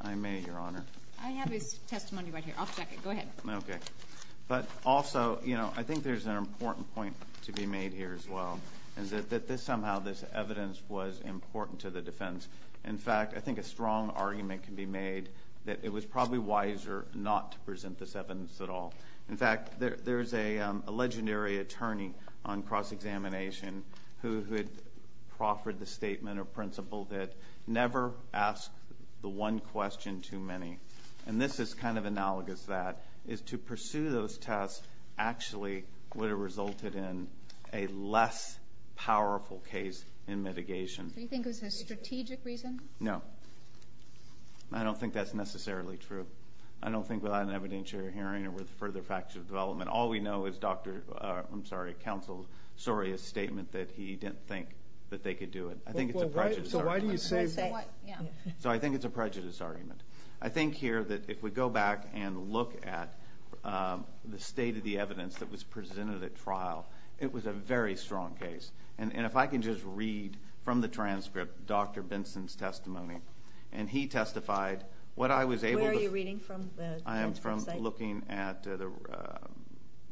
I may, Your Honor. I have his testimony right here. I'll check it. Go ahead. Okay. But also, you know, I think there's an important point to be made here as well, is that somehow this evidence was important to the defense. In fact, I think a strong argument can be made that it was probably wiser not to present this evidence at all. In fact, there's a legendary attorney on cross-examination who had proffered the statement or principle that never ask the one question too many. And this is kind of analogous to that, is to pursue those tests actually would have resulted in a less powerful case in mitigation. So you think it was a strategic reason? No. I don't think that's necessarily true. I don't think without an evidentiary hearing or with further factual development. All we know is Counsel Soria's statement that he didn't think that they could do it. I think it's a prejudice argument. So why do you say that? So I think it's a prejudice argument. I think here that if we go back and look at the state of the evidence that was presented at trial, it was a very strong case. And if I can just read from the transcript Dr. Benson's testimony, and he testified what I was able to. Where are you reading from? I am from looking at the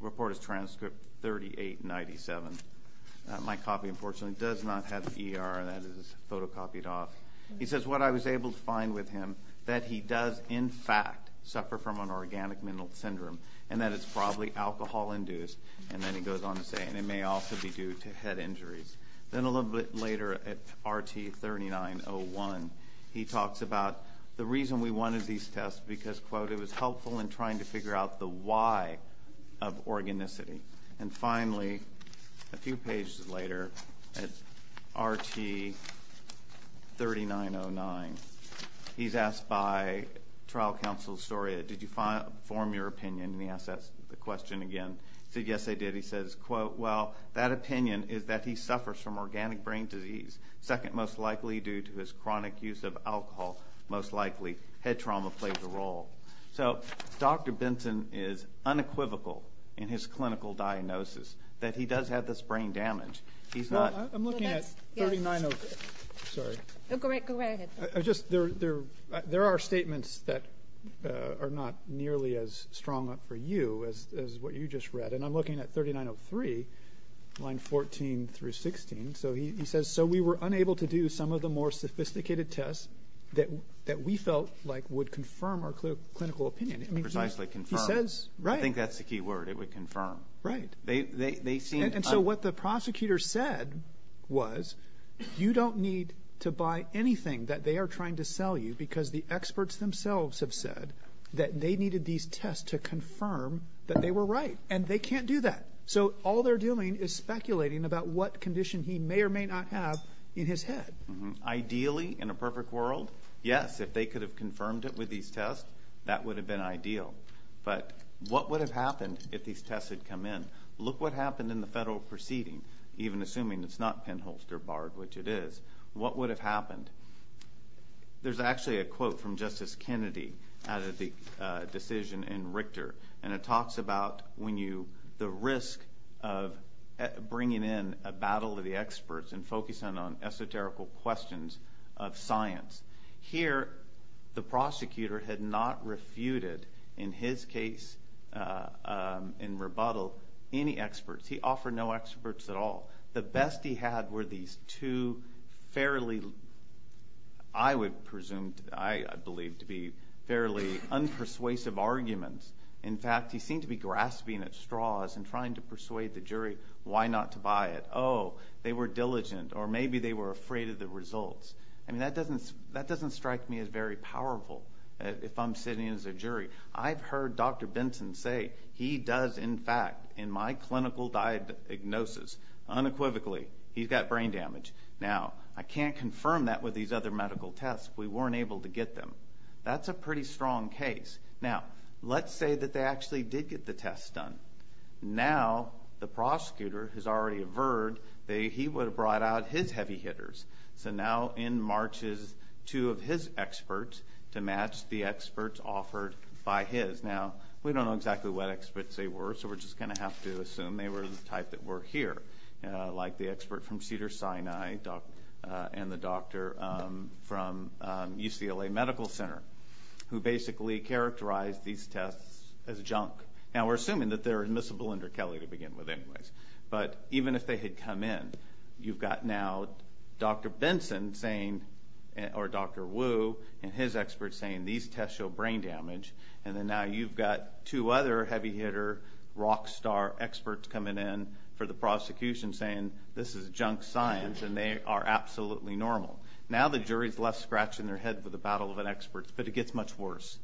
reporter's transcript 3897. My copy, unfortunately, does not have ER. That is photocopied off. He says what I was able to find with him, that he does, in fact, suffer from an organic mental syndrome, and that it's probably alcohol-induced. And then he goes on to say, and it may also be due to head injuries. Then a little bit later at RT 3901, he talks about the reason we wanted these tests, because, quote, it was helpful in trying to figure out the why of organicity. And finally, a few pages later at RT 3909, he's asked by trial counsel's story, did you form your opinion? And he asks that question again. He said, yes, I did. He says, quote, well, that opinion is that he suffers from organic brain disease. Second, most likely due to his chronic use of alcohol. Most likely, head trauma played the role. So Dr. Benson is unequivocal in his clinical diagnosis that he does have this brain damage. He's not. I'm looking at 3903. Go right ahead. There are statements that are not nearly as strong for you as what you just read. And I'm looking at 3903, line 14 through 16. So he says, so we were unable to do some of the more sophisticated tests that we felt like would confirm our clinical opinion. Precisely confirm. He says, right. I think that's the key word. It would confirm. Right. And so what the prosecutor said was you don't need to buy anything that they are trying to sell you because the experts themselves have said that they needed these tests to confirm that they were right. And they can't do that. So all they're doing is speculating about what condition he may or may not have in his head. Ideally, in a perfect world, yes, if they could have confirmed it with these tests, that would have been ideal. But what would have happened if these tests had come in? Look what happened in the federal proceeding, even assuming it's not Penholster-Bard, which it is. What would have happened? There's actually a quote from Justice Kennedy out of the decision in Richter, and it talks about the risk of bringing in a battle of the experts and focusing on esoterical questions of science. Here, the prosecutor had not refuted in his case in rebuttal any experts. He offered no experts at all. The best he had were these two fairly, I would presume, I believe to be fairly unpersuasive arguments. In fact, he seemed to be grasping at straws and trying to persuade the jury why not to buy it. Oh, they were diligent, or maybe they were afraid of the results. I mean, that doesn't strike me as very powerful if I'm sitting as a jury. I've heard Dr. Benson say he does, in fact, in my clinical diagnosis, unequivocally, he's got brain damage. Now, I can't confirm that with these other medical tests. We weren't able to get them. That's a pretty strong case. Now, let's say that they actually did get the tests done. Now, the prosecutor has already averred that he would have brought out his heavy hitters. So now in March is two of his experts to match the experts offered by his. Now, we don't know exactly what experts they were, so we're just going to have to assume they were the type that were here, like the expert from Cedars-Sinai and the doctor from UCLA Medical Center, who basically characterized these tests as junk. Now, we're assuming that they're admissible under Kelly to begin with anyways. But even if they had come in, you've got now Dr. Benson or Dr. Wu and his experts saying these tests show brain damage, and then now you've got two other heavy hitter rock star experts coming in for the prosecution saying this is junk science and they are absolutely normal. Now the jury's left scratching their heads with a battle of experts, but it gets much worse.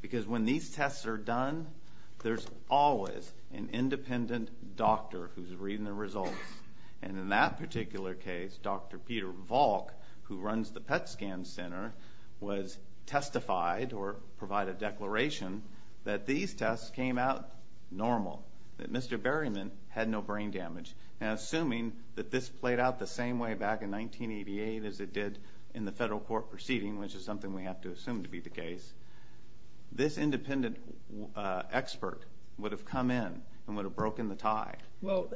Because when these tests are done, there's always an independent doctor who's reading the results, and in that particular case, Dr. Peter Volk, who runs the PET scan center, was testified or provided a declaration that these tests came out normal, that Mr. Berryman had no brain damage. Now assuming that this played out the same way back in 1988 as it did in the federal court proceeding, which is something we have to assume to be the case, this independent expert would have come in and would have broken the tie. Well,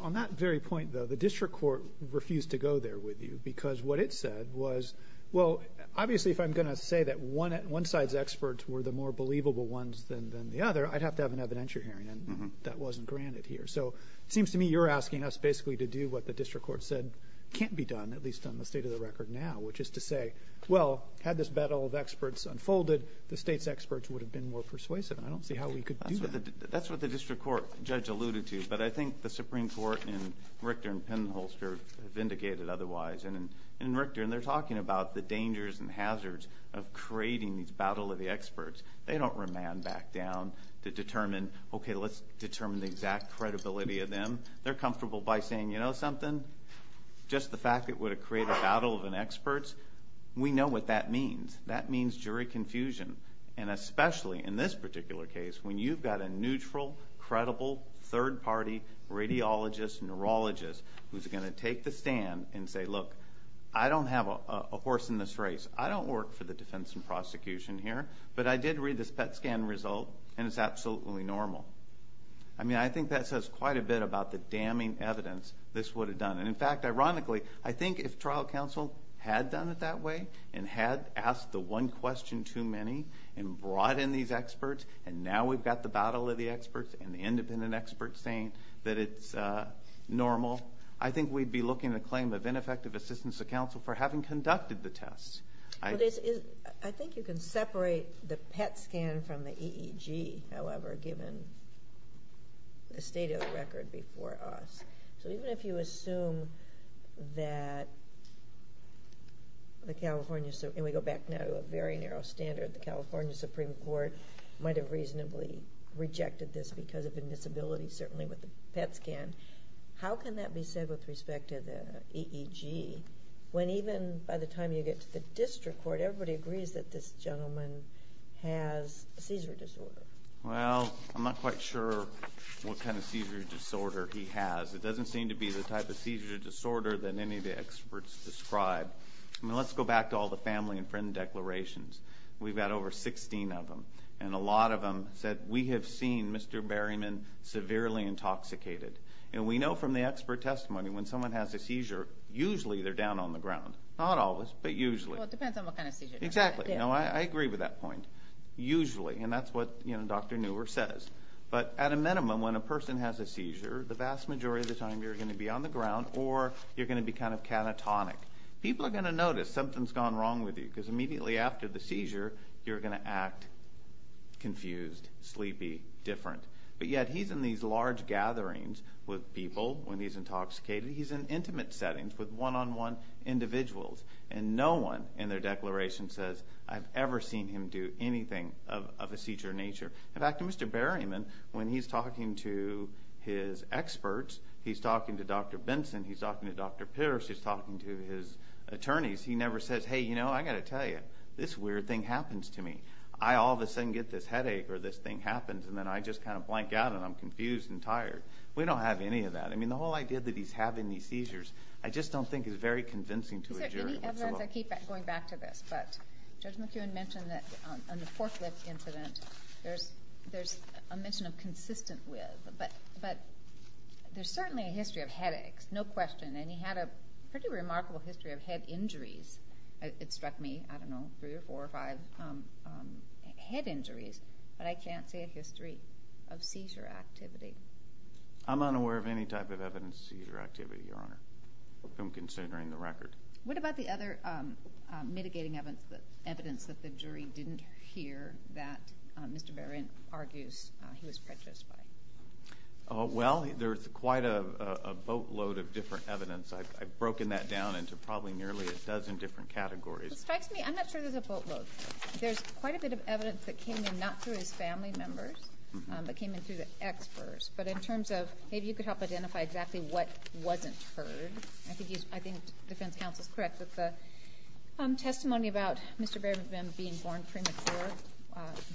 on that very point, though, the district court refused to go there with you because what it said was, well, obviously if I'm going to say that one side's experts were the more believable ones than the other, I'd have to have an evidentiary hearing, and that wasn't granted here. So it seems to me you're asking us basically to do what the district court said can't be done, at least on the state of the record now, which is to say, well, had this battle of experts unfolded, the state's experts would have been more persuasive. I don't see how we could do that. That's what the district court judge alluded to, but I think the Supreme Court in Richter and Penholster vindicated otherwise. And in Richter, they're talking about the dangers and hazards of creating these battle of the experts. They don't remand back down to determine, okay, let's determine the exact credibility of them. They're comfortable by saying, you know something, just the fact it would have created a battle of experts, we know what that means. That means jury confusion, and especially in this particular case, when you've got a neutral, credible, third-party radiologist, neurologist, who's going to take the stand and say, look, I don't have a horse in this race. I don't work for the defense and prosecution here, but I did read this PET scan result, and it's absolutely normal. I mean, I think that says quite a bit about the damning evidence this would have done. And, in fact, ironically, I think if trial counsel had done it that way and had asked the one question too many and brought in these experts, and now we've got the battle of the experts and the independent experts saying that it's normal, I think we'd be looking at a claim of ineffective assistance to counsel for having conducted the test. I think you can separate the PET scan from the EEG, however, given the state of the record before us. So even if you assume that the California, and we go back now to a very narrow standard, the California Supreme Court might have reasonably rejected this because of invisibility, certainly with the PET scan, how can that be said with respect to the EEG when even by the time you get to the district court, everybody agrees that this gentleman has a seizure disorder? Well, I'm not quite sure what kind of seizure disorder he has. It doesn't seem to be the type of seizure disorder that any of the experts describe. I mean, let's go back to all the family and friend declarations. We've got over 16 of them, and a lot of them said, we have seen Mr. Berryman severely intoxicated. And we know from the expert testimony when someone has a seizure, usually they're down on the ground. Not always, but usually. Well, it depends on what kind of seizure it is. Exactly. No, I agree with that point. Usually, and that's what Dr. Neuwer says. But at a minimum, when a person has a seizure, the vast majority of the time you're going to be on the ground or you're going to be kind of catatonic. People are going to notice something's gone wrong with you or you're going to act confused, sleepy, different. But yet, he's in these large gatherings with people when he's intoxicated. He's in intimate settings with one-on-one individuals. And no one in their declaration says, I've ever seen him do anything of a seizure nature. In fact, Mr. Berryman, when he's talking to his experts, he's talking to Dr. Benson, he's talking to Dr. Pierce, he's talking to his attorneys, he never says, hey, you know, I've got to tell you, this weird thing happens to me. I all of a sudden get this headache or this thing happens and then I just kind of blank out and I'm confused and tired. We don't have any of that. I mean, the whole idea that he's having these seizures, I just don't think is very convincing to a jury. Is there any evidence, going back to this, but Judge McEwen mentioned that on the forklift incident, there's a mention of consistent with. But there's certainly a history of headaches, no question. And he had a pretty remarkable history of head injuries. It struck me, I don't know, three or four or five head injuries, but I can't see a history of seizure activity. I'm unaware of any type of evidence of seizure activity, Your Honor, whom considering the record. What about the other mitigating evidence that the jury didn't hear that Mr. Berryman argues he was prejudiced by? Well, there's quite a boatload of different evidence. I've broken that down into probably nearly a dozen different categories. What strikes me, I'm not sure there's a boatload. There's quite a bit of evidence that came in not through his family members, but came in through the experts. But in terms of maybe you could help identify exactly what wasn't heard. I think defense counsel is correct that the testimony about Mr. Berryman being born premature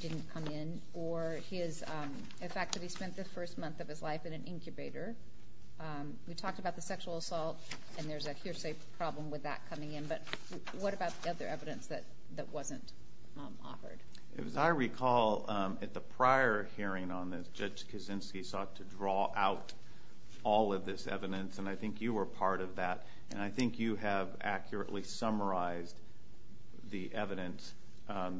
didn't come in or the fact that he spent the first month of his life in an incubator. We talked about the sexual assault, and there's a hearsay problem with that coming in. But what about the other evidence that wasn't offered? As I recall, at the prior hearing on this, Judge Kaczynski sought to draw out all of this evidence, and I think you were part of that. And I think you have accurately summarized the evidence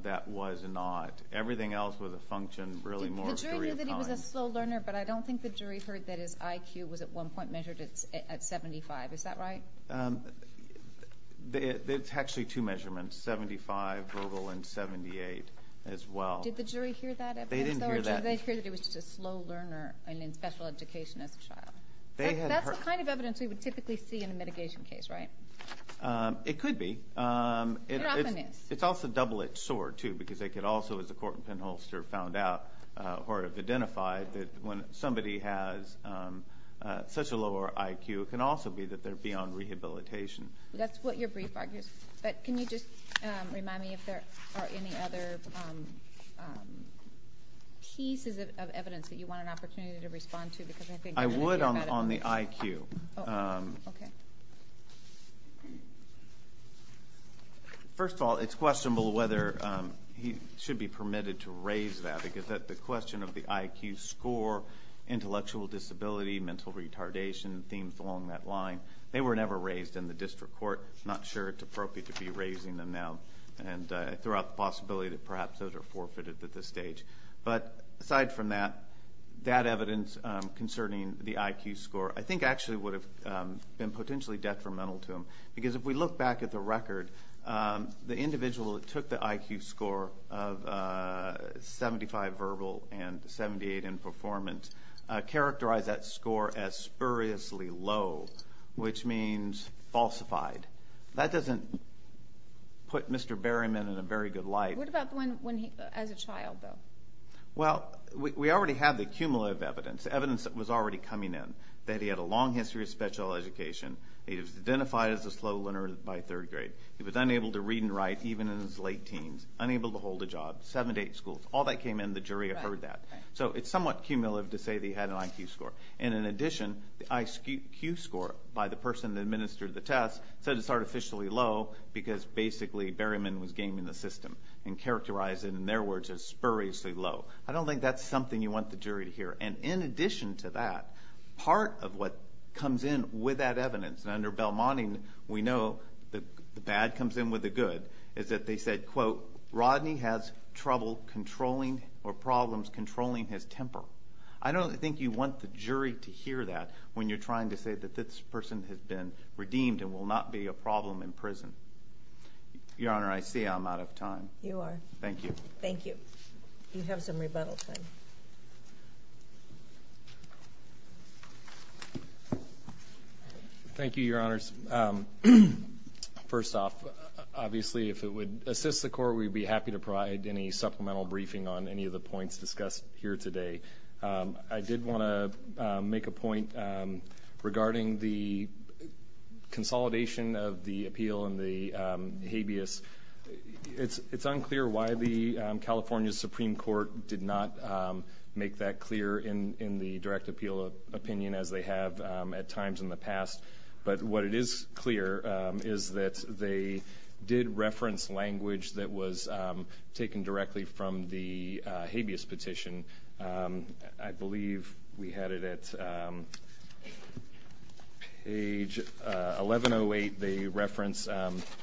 that was not. Everything else was a function really more of a theory of common sense. The jury knew that he was a slow learner, but I don't think the jury heard that his IQ was at one point measured at 75. Is that right? There's actually two measurements, 75 verbal and 78 as well. Did the jury hear that evidence? They didn't hear that. Or did they hear that he was just a slow learner and in special education as a child? That's the kind of evidence we would typically see in a mitigation case, right? It could be. It often is. It's also double-edged sword, too, because they could also, as the court in Penholster found out or have identified, that when somebody has such a lower IQ, it can also be that they're beyond rehabilitation. That's what your brief argues. But can you just remind me if there are any other pieces of evidence that you want an opportunity to respond to? I would on the IQ. First of all, it's questionable whether he should be permitted to raise that because the question of the IQ score, intellectual disability, mental retardation, themes along that line, they were never raised in the district court. I'm not sure it's appropriate to be raising them now. I throw out the possibility that perhaps those are forfeited at this stage. But aside from that, that evidence concerning the IQ score, I think actually would have been potentially detrimental to him because if we look back at the record, the individual that took the IQ score of 75 verbal and 78 in performance characterized that score as spuriously low, which means falsified. That doesn't put Mr. Berryman in a very good light. What about as a child, though? Well, we already have the cumulative evidence, evidence that was already coming in, that he had a long history of special education. He was identified as a slow learner by third grade. He was unable to read and write even in his late teens, unable to hold a job, seven to eight schools. All that came in, the jury had heard that. So it's somewhat cumulative to say that he had an IQ score. And in addition, the IQ score by the person that administered the test said it's artificially low because basically Berryman was gaming the system and characterized it, in their words, as spuriously low. I don't think that's something you want the jury to hear. And in addition to that, part of what comes in with that evidence, and under Belmonting we know the bad comes in with the good, is that they said, quote, Rodney has trouble controlling or problems controlling his temper. I don't think you want the jury to hear that when you're trying to say that this person has been redeemed and will not be a problem in prison. Your Honor, I see I'm out of time. You are. Thank you. Thank you. You have some rebuttal time. Thank you, Your Honors. First off, obviously if it would assist the Court, we'd be happy to provide any supplemental briefing on any of the points discussed here today. I did want to make a point regarding the consolidation of the appeal and the habeas. It's unclear why the California Supreme Court did not make that clear in the direct appeal opinion as they have at times in the past. But what it is clear is that they did reference language that was taken directly from the habeas petition. I believe we had it at page 1108. They reference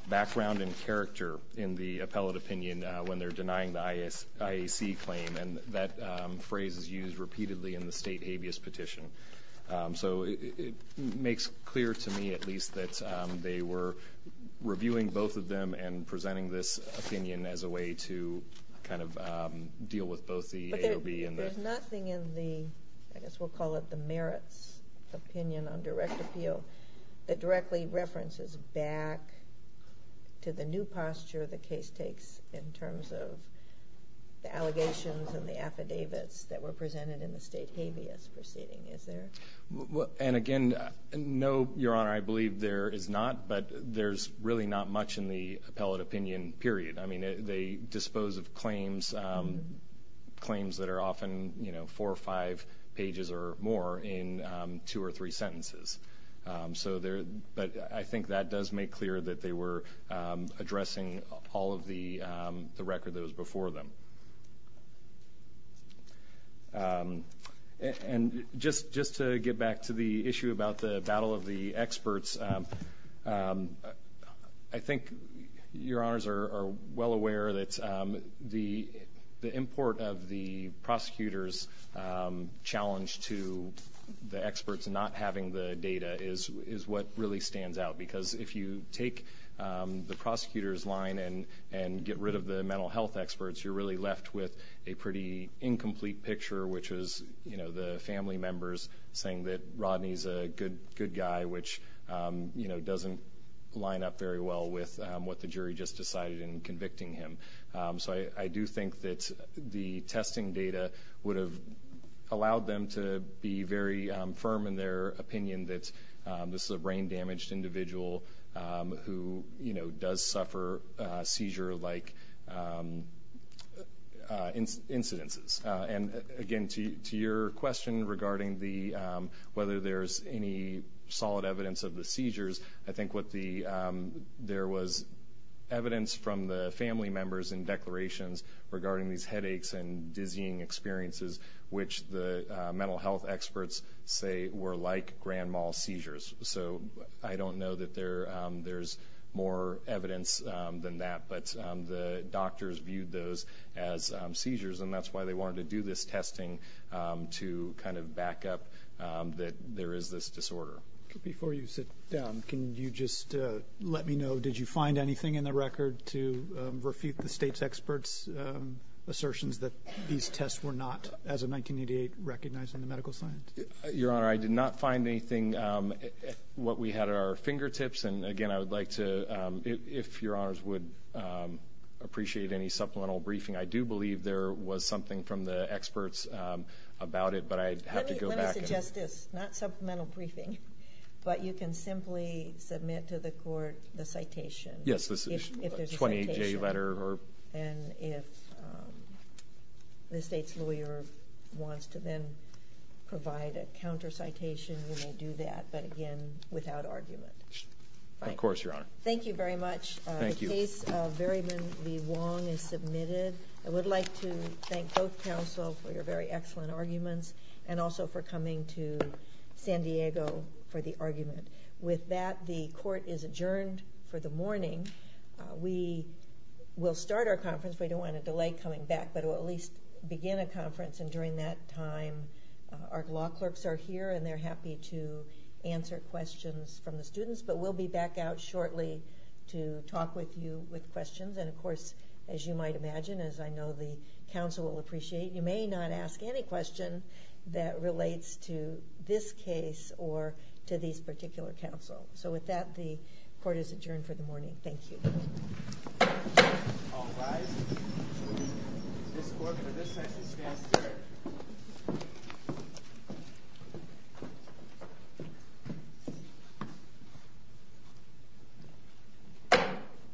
background and character in the appellate opinion when they're denying the IAC claim, and that phrase is used repeatedly in the state habeas petition. So it makes clear to me at least that they were reviewing both of them and presenting this opinion as a way to kind of deal with both the AOB. But there's nothing in the, I guess we'll call it the merits opinion on direct appeal, that directly references back to the new posture the case takes in terms of the allegations and the affidavits that were presented in the state habeas proceeding, is there? And again, no, Your Honor, I believe there is not, but there's really not much in the appellate opinion, period. I mean, they dispose of claims that are often four or five pages or more in two or three sentences. But I think that does make clear that they were addressing all of the record that was before them. And just to get back to the issue about the battle of the experts, I think Your Honors are well aware that the import of the prosecutor's challenge to the experts not having the data is what really stands out. Because if you take the prosecutor's line and get rid of the mental health experts, you're really left with a pretty incomplete picture, which is the family members saying that Rodney's a good guy, which doesn't line up very well with what the jury just decided in convicting him. So I do think that the testing data would have allowed them to be very firm in their opinion that this is a brain-damaged individual who does suffer seizure-like incidences. And again, to your question regarding whether there's any solid evidence of the seizures, I think there was evidence from the family members in declarations regarding these headaches and dizzying experiences, which the mental health experts say were like grand mal seizures. So I don't know that there's more evidence than that. But the doctors viewed those as seizures, and that's why they wanted to do this testing to kind of back up that there is this disorder. Before you sit down, can you just let me know, did you find anything in the record to refute the State's experts' assertions that these tests were not, as of 1988, recognized in the medical science? Your Honor, I did not find anything. What we had at our fingertips, and again, I would like to, if Your Honors would appreciate any supplemental briefing, I do believe there was something from the experts about it, but I'd have to go back. Mr. Justice, not supplemental briefing, but you can simply submit to the Court the citation. Yes, a 28-J letter. And if the State's lawyer wants to then provide a counter-citation, you may do that, but again, without argument. Of course, Your Honor. Thank you very much. Thank you. The case of Berryman v. Wong is submitted. I would like to thank both counsel for your very excellent arguments, and also for coming to San Diego for the argument. With that, the Court is adjourned for the morning. We will start our conference. We don't want to delay coming back, but we'll at least begin a conference. And during that time, our law clerks are here, and they're happy to answer questions from the students. But we'll be back out shortly to talk with you with questions. And, of course, as you might imagine, as I know the counsel will appreciate, you may not ask any question that relates to this case or to this particular counsel. So with that, the Court is adjourned for the morning. Thank you.